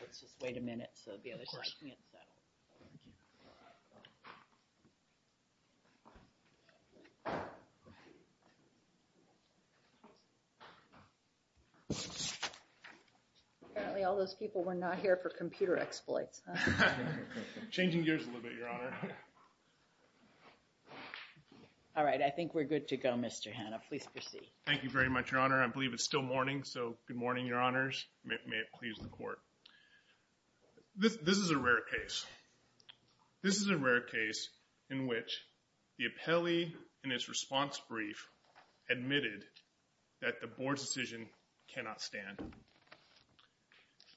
Let's just wait a minute so the other side can get settled. Apparently all those people were not here for computer exploits. Changing gears a little bit, Your Honor. All right, I think we're good to go, Mr. Hanna. Please proceed. Thank you very much, Your Honor. I believe it's still morning, so good morning, Your Honors. May it please the Court. This is a rare case. This is a rare case in which the appellee in his response brief admitted that the Board's decision cannot stand.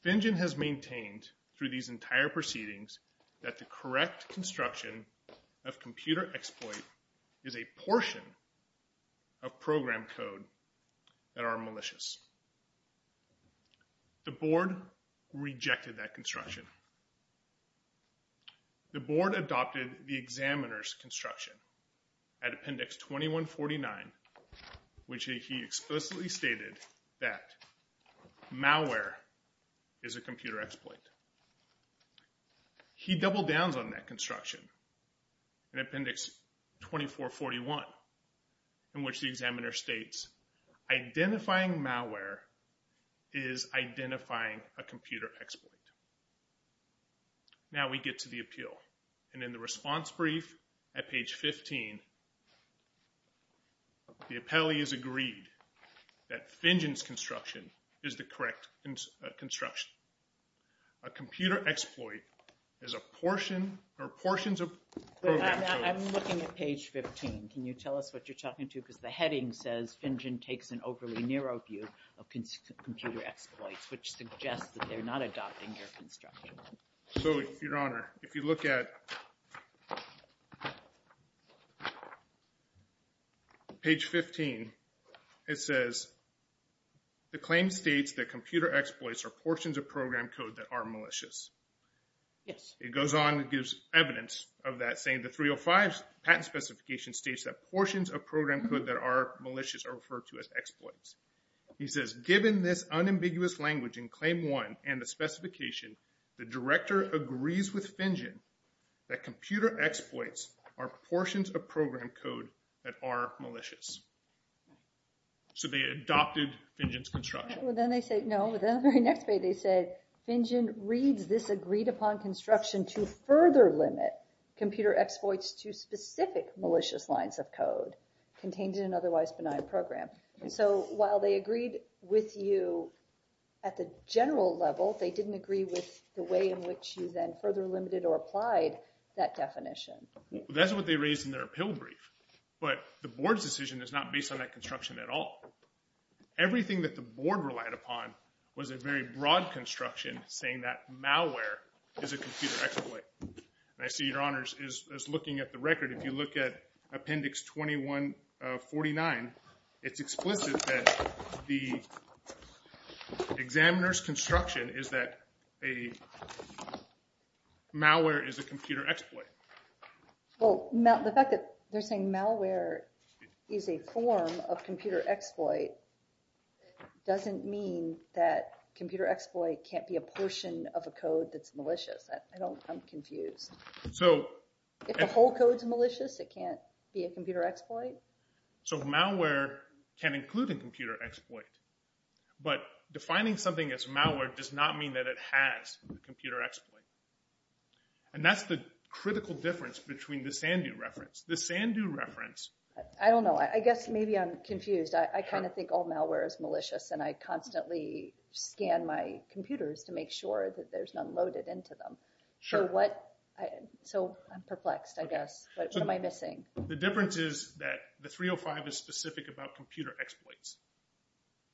Fingen has maintained through these entire proceedings that the correct construction of computer exploit is a portion of program code that are malicious. The Board rejected that construction. The Board adopted the examiner's construction at Appendix 2149, which he explicitly stated that malware is a computer exploit. He doubled downs on that construction in Appendix 2441, in which the examiner states identifying malware is identifying a computer exploit. Now we get to the appeal, and in the response brief at page 15, the appellee has agreed that Fingen's construction is the correct construction. A computer exploit is a portion or portions of program code. I'm looking at page 15. Can you tell us what you're talking to? Because the heading says, Fingen takes an overly narrow view of computer exploits, which suggests that they're not adopting your construction. Your Honor, if you look at page 15, it says the claim states that computer exploits are portions of program code that are malicious. It goes on and gives evidence of that, saying the 305 patent specification states that portions of program code that are malicious are referred to as exploits. He says, given this unambiguous language in Claim 1 and the specification, the director agrees with Fingen that computer exploits are portions of program code that are malicious. So they adopted Fingen's construction. Well then they say, no, the very next page they say, Fingen reads this agreed upon construction to further limit computer exploits to specific malicious lines of code contained in an otherwise benign program. So while they agreed with you at the general level, they didn't agree with the way in which you then further limited or applied that definition. That's what they raised in their appeal brief. But the board's decision is not based on that construction at all. Everything that the board relied upon was a very broad construction saying that malware is a computer exploit. I see your honors is looking at the record. If you look at appendix 2149, it's explicit that the examiner's construction is that a malware is a computer exploit. Well, the fact that they're saying malware is a form of computer exploit doesn't mean that computer exploit can't be a portion of a code that's malicious. I'm confused. If the whole code's malicious, it can't be a computer exploit? So malware can include a computer exploit. But defining something as malware does not mean that it has a computer exploit. And that's the critical difference between the Sandu reference. The Sandu reference... I don't know. I guess maybe I'm confused. I kind of think all malware is malicious and I constantly scan my computers to make sure that there's none loaded into them. So I'm perplexed, I guess. What am I missing? The difference is that the 305 is specific about computer exploits.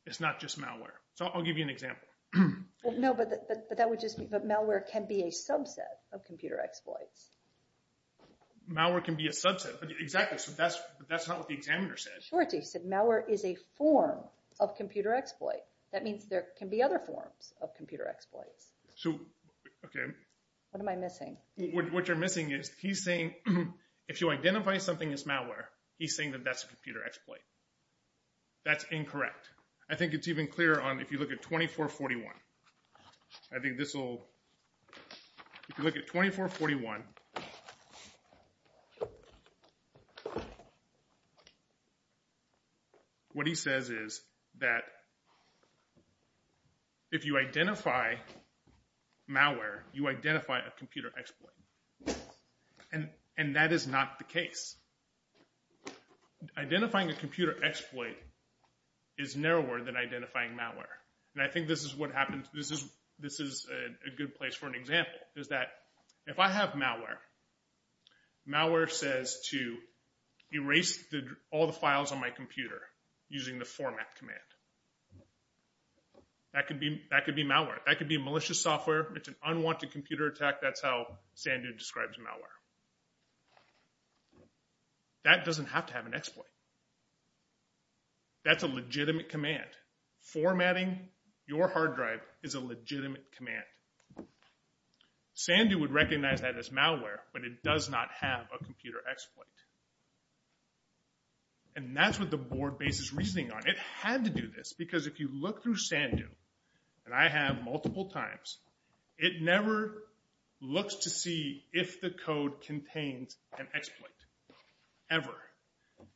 It's not just malware. So I'll give you an example. No, but that would just be... But malware can be a subset of computer exploits. Malware can be a subset. Exactly. So that's not what the examiner said. He said malware is a form of computer exploit. That means there can be other forms of computer exploits. So, okay. What am I missing? What you're missing is he's saying if you identify something as malware, he's saying that that's a computer exploit. That's incorrect. I think it's even clearer if you look at 2441. I think this will... If you look at 2441... What he says is that if you identify malware, you identify a computer exploit. And that is not the case. Identifying a computer exploit is narrower than identifying malware. And I think this is what happens... This is a good place for an example. If I have malware, malware says to erase all the files on my computer using the format command. That could be malware. That could be malicious software. It's an unwanted computer attack. That's how Sandu describes malware. That doesn't have to have an exploit. That's a legitimate command. Formatting your hard drive is a legitimate command. Sandu would recognize that as malware, but it does not have a computer exploit. And that's what the board base is reasoning on. It had to do this because if you look through Sandu, and I have multiple times, it never looks to see if the code contains an exploit. Ever.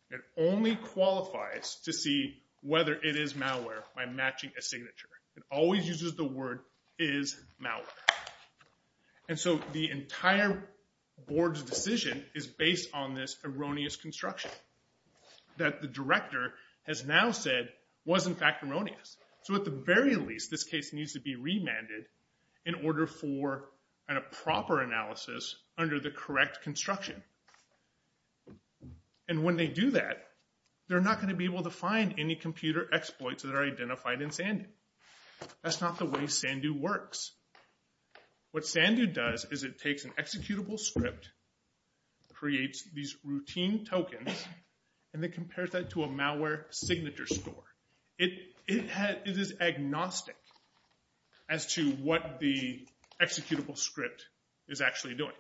It only qualifies to see whether it is malware by matching a signature. It always uses the word, is malware. And so the entire board's decision is based on this erroneous construction that the director has now said was in fact erroneous. So at the very least, this case needs to be remanded in order for a proper analysis under the correct construction. And when they do that, they're not going to be able to find any computer exploits that are identified in Sandu. That's not the way Sandu works. What Sandu does is it takes an executable script, creates these routine tokens, and then compares that to a malware signature score. It is agnostic as to what the executable script is actually doing.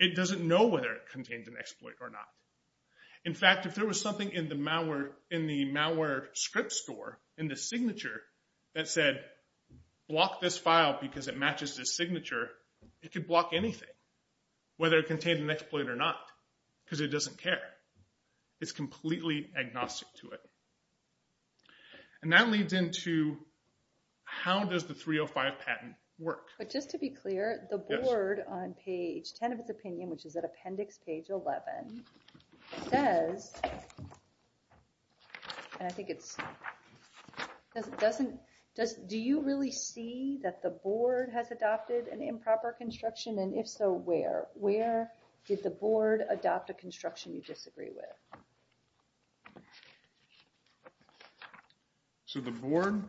It doesn't know whether it contains an exploit or not. In fact, if there was something in the malware script store, in the signature, that said, block this file because it matches this signature, it could block anything, whether it contained an exploit or not, because it doesn't care. It's completely agnostic to it. And that leads into how does the 305 patent work? But just to be clear, the board on page 10 of its opinion, which is at appendix page 11, says, and I think it's, do you really see that the board has adopted an improper construction? And if so, where? Did the board adopt a construction you disagree with? So the board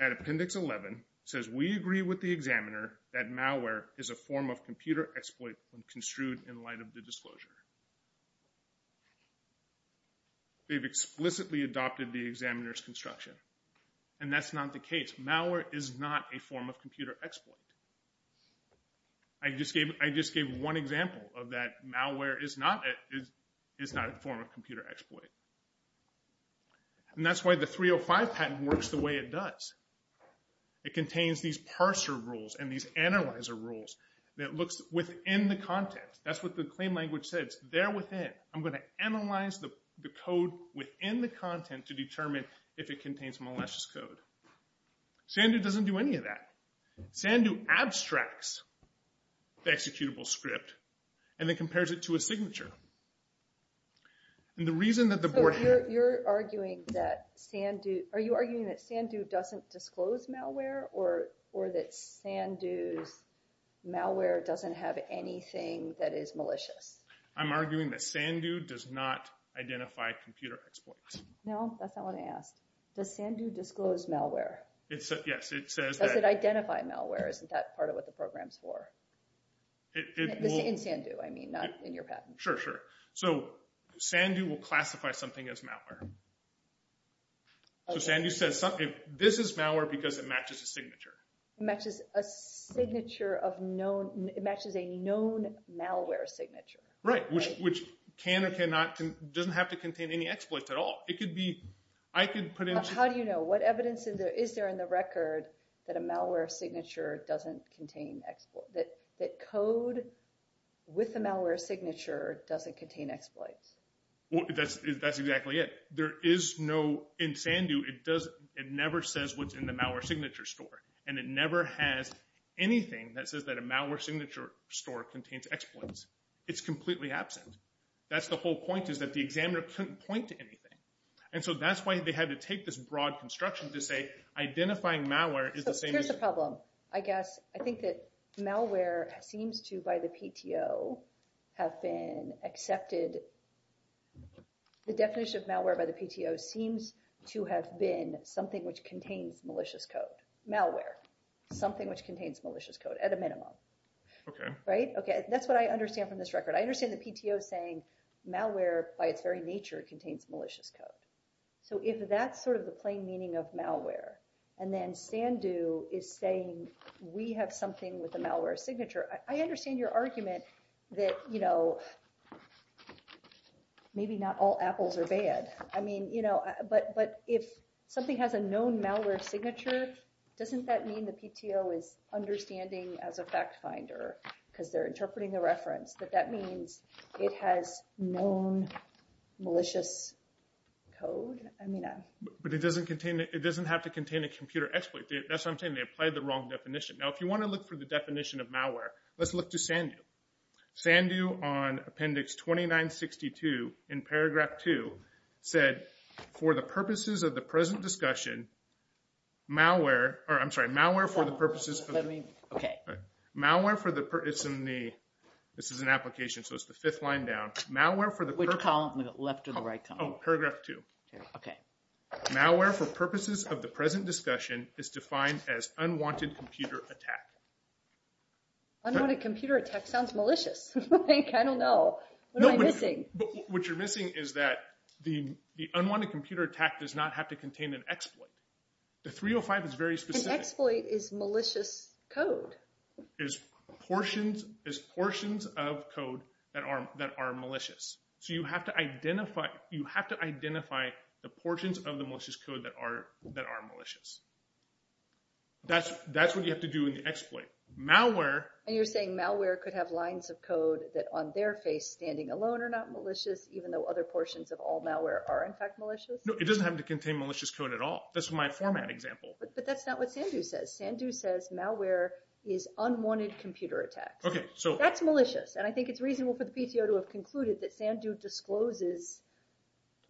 at appendix 11 says, we agree with the examiner that malware is a form of computer exploit when construed in light of the disclosure. They've explicitly adopted the examiner's construction. And that's not the case. Malware is not a form of computer exploit. I just gave one example of that. Malware is not a form of computer exploit. And that's why the 305 patent works the way it does. It contains these parser rules and these analyzer rules that looks within the content. That's what the claim language says. It's there within. I'm going to analyze the code within the content to determine if it contains malicious code. Sandu doesn't do any of that. Sandu abstracts the executable script and then compares it to a signature. And the reason that the board had... So you're arguing that Sandu doesn't disclose malware or that Sandu's malware doesn't have anything that is malicious? I'm arguing that Sandu does not identify computer exploits. No, that's not what I asked. Does Sandu disclose malware? Yes, it says that... Does it identify malware? Isn't that part of what the program's for? In Sandu, I mean, not in your patent. Sure, sure. So Sandu will classify something as malware. So Sandu says this is malware because it matches a signature. It matches a signature of known... It matches a known malware signature. Right, which can or cannot... Doesn't have to contain any exploits at all. It could be... I could put in... How do you know? What evidence is there in the record that a malware signature doesn't contain exploits? That code with a malware signature doesn't contain exploits? That's exactly it. There is no... In Sandu, it never says what's in the malware signature store. And it never has anything that says that a malware signature store contains exploits. It's completely absent. That's the whole point is that the examiner couldn't point to anything. And so that's why they had to take this broad construction to say identifying malware is the same as... Here's the problem, I guess. I think that malware seems to, by the PTO, have been accepted... The definition of malware by the PTO seems to have been something which contains malicious code. Malware. Something which contains malicious code, at a minimum. Okay. Right? That's what I understand from this record. I understand the PTO saying malware, by its very nature, contains malicious code. So if that's sort of the plain meaning of malware, and then Sandu is saying we have something with a malware signature, I understand your argument that, you know, maybe not all apples are bad. I mean, you know, but if something has a known malware signature, doesn't that mean the PTO is understanding as a fact finder, because they're interpreting the reference, that that means it has known malicious code? But it doesn't have to contain a computer exploit. That's what I'm saying. They applied the wrong definition. Now, if you want to look for the definition of malware, let's look to Sandu. Sandu, on Appendix 2962, in Paragraph 2, said, for the purposes of the present discussion, malware, or I'm sorry, malware for the purposes of, let me, okay. Malware for the, it's in the, this is an application, so it's the fifth line down. Malware for the, Which column? The left or the right column? Oh, Paragraph 2. Okay. Malware for purposes of the present discussion is defined as unwanted computer attack. Like, I don't know. What am I missing? What you're missing is that the unwanted computer attack does not have to contain an exploit. The 305 is very specific. An exploit is malicious code. Is portions of code that are malicious. So you have to identify the portions of the malicious code that are malicious. Malware. And you're saying malware could have lines of code that on their face standing alone are not malicious, even though other portions of all malware are in fact malicious? No, it doesn't have to contain malicious code at all. That's my format example. But that's not what Sandu says. Sandu says malware is unwanted computer attacks. Okay, so. That's malicious, and I think it's reasonable for the PTO to have concluded that Sandu discloses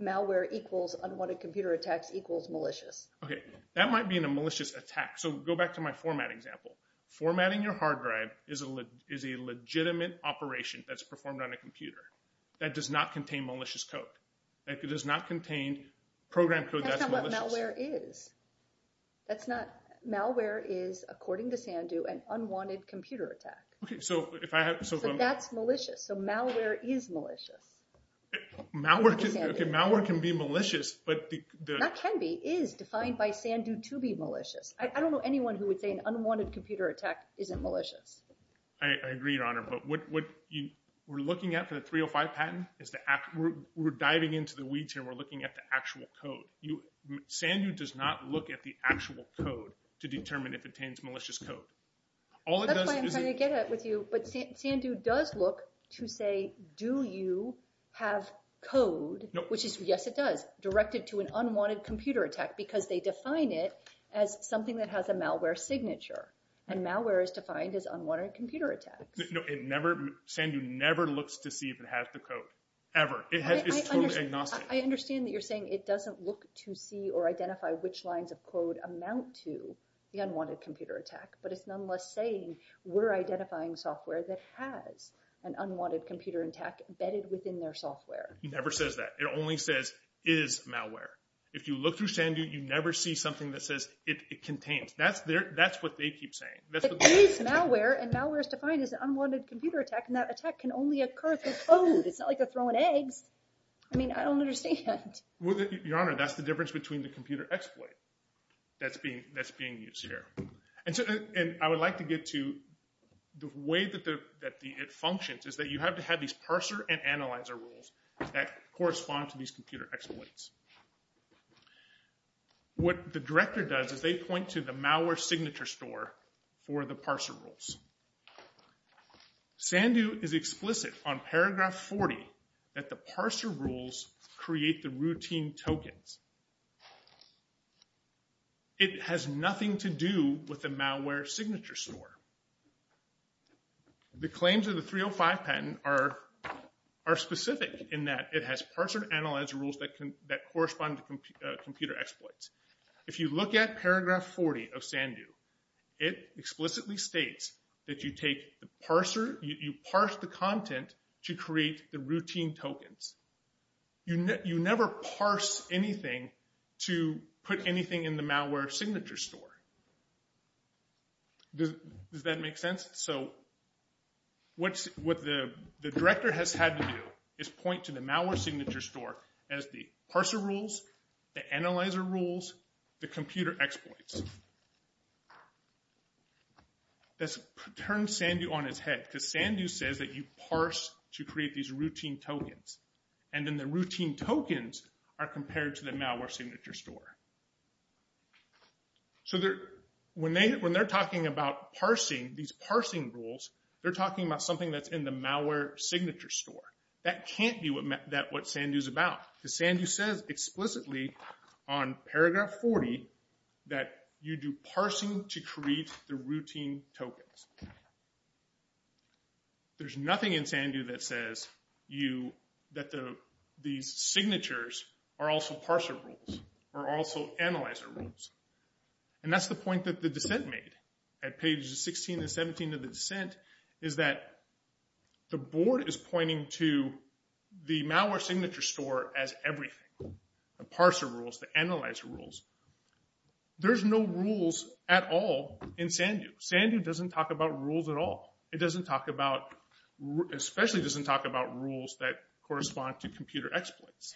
malware equals unwanted computer attacks equals malicious. Okay, that might be in a malicious attack. So go back to my format example. Formatting your hard drive is a legitimate operation that's performed on a computer. That does not contain malicious code. That does not contain program code that's malicious. That's not what malware is. That's not. Malware is, according to Sandu, an unwanted computer attack. Okay, so if I have. So that's malicious. So malware is malicious. Malware can be malicious, but. That can be, is defined by Sandu to be malicious. I don't know anyone who would say an unwanted computer attack isn't malicious. I agree, Your Honor. But what we're looking at for the 305 patent is the actual. We're diving into the weeds here. We're looking at the actual code. Sandu does not look at the actual code to determine if it contains malicious code. That's why I'm trying to get at it with you. But Sandu does look to say, do you have code, which is, yes, it does, directed to an unwanted computer attack. Because they define it as something that has a malware signature. And malware is defined as unwanted computer attacks. No, it never. Sandu never looks to see if it has the code. Ever. It's totally agnostic. I understand that you're saying it doesn't look to see or identify which lines of code amount to the unwanted computer attack. But it's nonetheless saying we're identifying software that has an unwanted computer attack embedded within their software. It never says that. It only says is malware. If you look through Sandu, you never see something that says it contains. That's what they keep saying. It is malware. And malware is defined as an unwanted computer attack. And that attack can only occur through code. It's not like they're throwing eggs. I mean, I don't understand. Your Honor, that's the difference between the computer exploit that's being used here. And I would like to get to the way that it functions is that you have to have these parser and analyzer rules that correspond to these computer exploits. What the director does is they point to the malware signature store for the parser rules. Sandu is explicit on paragraph 40 that the parser rules create the routine tokens. It has nothing to do with the malware signature store. The claims of the 305 patent are specific in that it has parser and analyzer rules that correspond to computer exploits. If you look at paragraph 40 of Sandu, it explicitly states that you parse the content to create the routine tokens. You never parse anything to put anything in the malware signature store. Does that make sense? So what the director has had to do is point to the malware signature store as the parser rules, the analyzer rules, the computer exploits. This turns Sandu on its head because Sandu says that you parse to create these routine tokens. And then the routine tokens are compared to the malware signature store. So when they're talking about parsing, these parsing rules, they're talking about something that's in the malware signature store. That can't be what Sandu's about. Because Sandu says explicitly on paragraph 40 that you do parsing to create the routine tokens. There's nothing in Sandu that says that these signatures are also parser rules or also analyzer rules. And that's the point that the dissent made. At pages 16 and 17 of the dissent is that the board is pointing to the malware signature store as everything. The parser rules, the analyzer rules. There's no rules at all in Sandu. Sandu doesn't talk about rules at all. It doesn't talk about, especially doesn't talk about rules that correspond to computer exploits.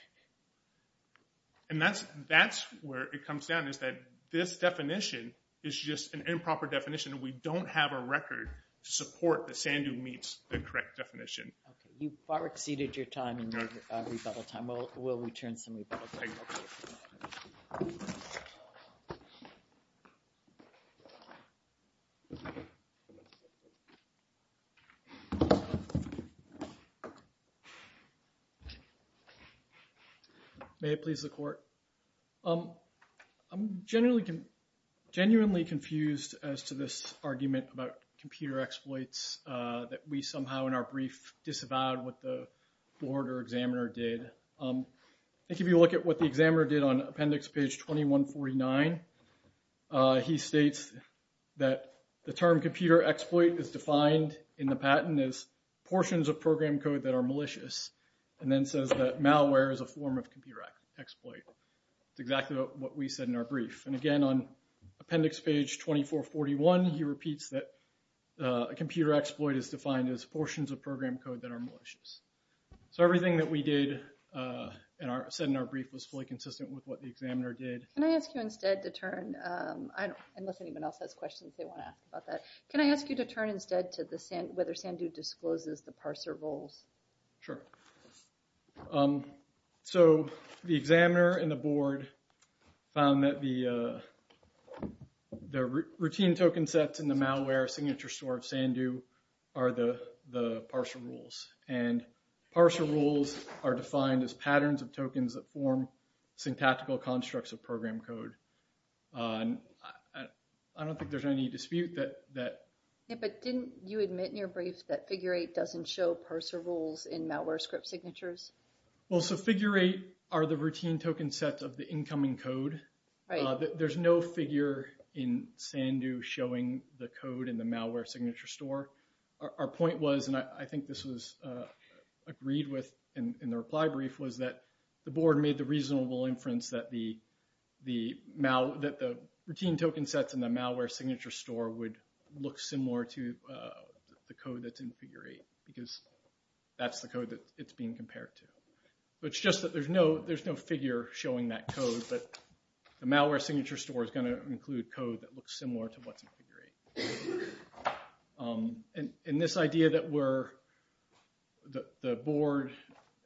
And that's where it comes down is that this definition is just an improper definition. We don't have a record to support that Sandu meets the correct definition. You've far exceeded your time and your rebuttal time. We'll return some rebuttal time. May it please the court. I'm genuinely confused as to this argument about computer exploits that we somehow in our brief disavowed what the board or examiner did. If you look at what the examiner did on appendix page 2149, he states that the term computer exploit is defined in the patent as portions of program code that are malicious. And then says that malware is a form of computer exploit. It's exactly what we said in our brief. And again, on appendix page 2441, he repeats that a computer exploit is defined as portions of program code that are malicious. So everything that we did and said in our brief was fully consistent with what the examiner did. Can I ask you instead to turn, unless anyone else has questions they want to ask about that. Can I ask you to turn instead to whether Sandu discloses the parser rules? Sure. So the examiner and the board found that the routine token sets in the malware signature store of Sandu are the parser rules. And parser rules are defined as patterns of tokens that form syntactical constructs of program code. I don't think there's any dispute that. Yeah, but didn't you admit in your brief that figure eight doesn't show parser rules in malware script signatures? Well, so figure eight are the routine token sets of the incoming code. There's no figure in Sandu showing the code in the malware signature store. Our point was, and I think this was agreed with in the reply brief, was that the board made the reasonable inference that the routine token sets in the malware signature store would look similar to the code that's in figure eight. Because that's the code that it's being compared to. It's just that there's no figure showing that code. But the malware signature store is going to include code that looks similar to what's in figure eight. And this idea that the board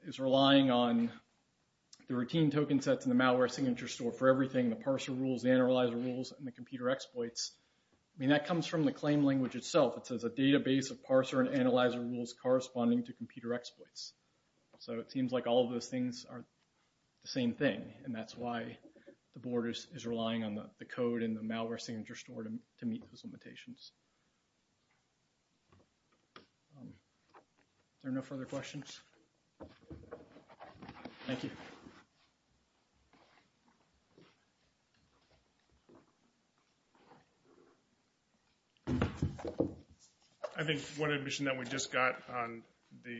is relying on the routine token sets in the malware signature store for everything, the parser rules, the analyzer rules, and the computer exploits, that comes from the claim language itself. It says a database of parser and analyzer rules corresponding to computer exploits. So it seems like all of those things are the same thing. And that's why the board is relying on the code in the malware signature store to meet those limitations. Are there no further questions? Thank you. I think one admission that we just got on the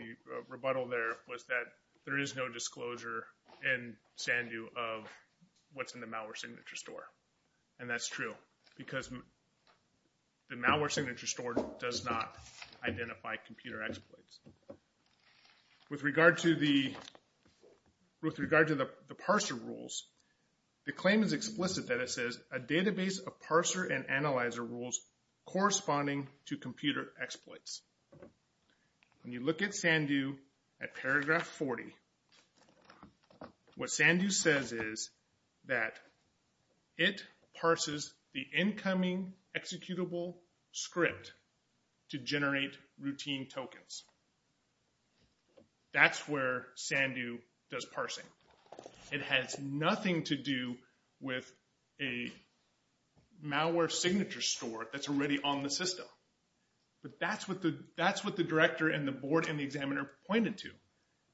rebuttal there was that there is no disclosure in Sandhu of what's in the malware signature store. And that's true. Because the malware signature store does not identify computer exploits. With regard to the parser rules, the claim is explicit that it says a database of parser and analyzer rules corresponding to computer exploits. When you look at Sandhu at paragraph 40, what Sandhu says is that it parses the incoming executable script to generate routine tokens. That's where Sandhu does parsing. It has nothing to do with a malware signature store that's already on the system. But that's what the director and the board and the examiner pointed to.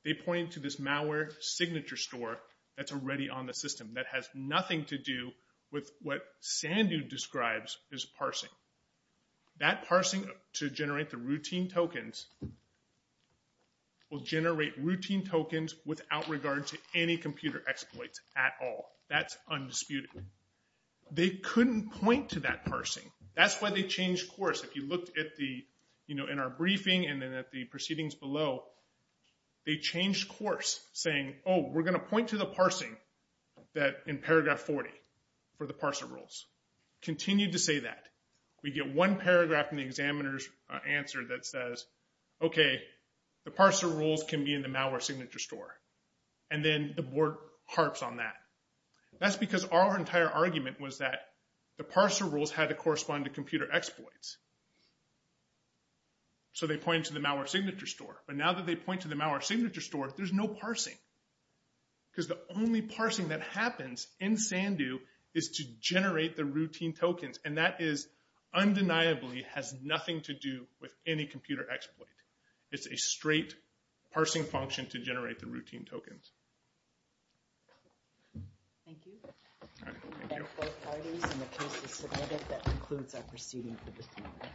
They pointed to this malware signature store that's already on the system that has nothing to do with what Sandhu describes as parsing. That parsing to generate the routine tokens will generate routine tokens without regard to any computer exploits at all. That's undisputed. They couldn't point to that parsing. That's why they changed course. If you looked in our briefing and at the proceedings below, they changed course. Saying, oh, we're going to point to the parsing in paragraph 40 for the parser rules. Continued to say that. We get one paragraph in the examiner's answer that says, okay, the parser rules can be in the malware signature store. And then the board harps on that. That's because our entire argument was that the parser rules had to correspond to computer exploits. So they point to the malware signature store. But now that they point to the malware signature store, there's no parsing. Because the only parsing that happens in Sandhu is to generate the routine tokens. And that is undeniably has nothing to do with any computer exploit. It's a straight parsing function to generate the routine tokens. Thank you. All right. Thank you. And the case is submitted. That concludes our proceeding for this morning.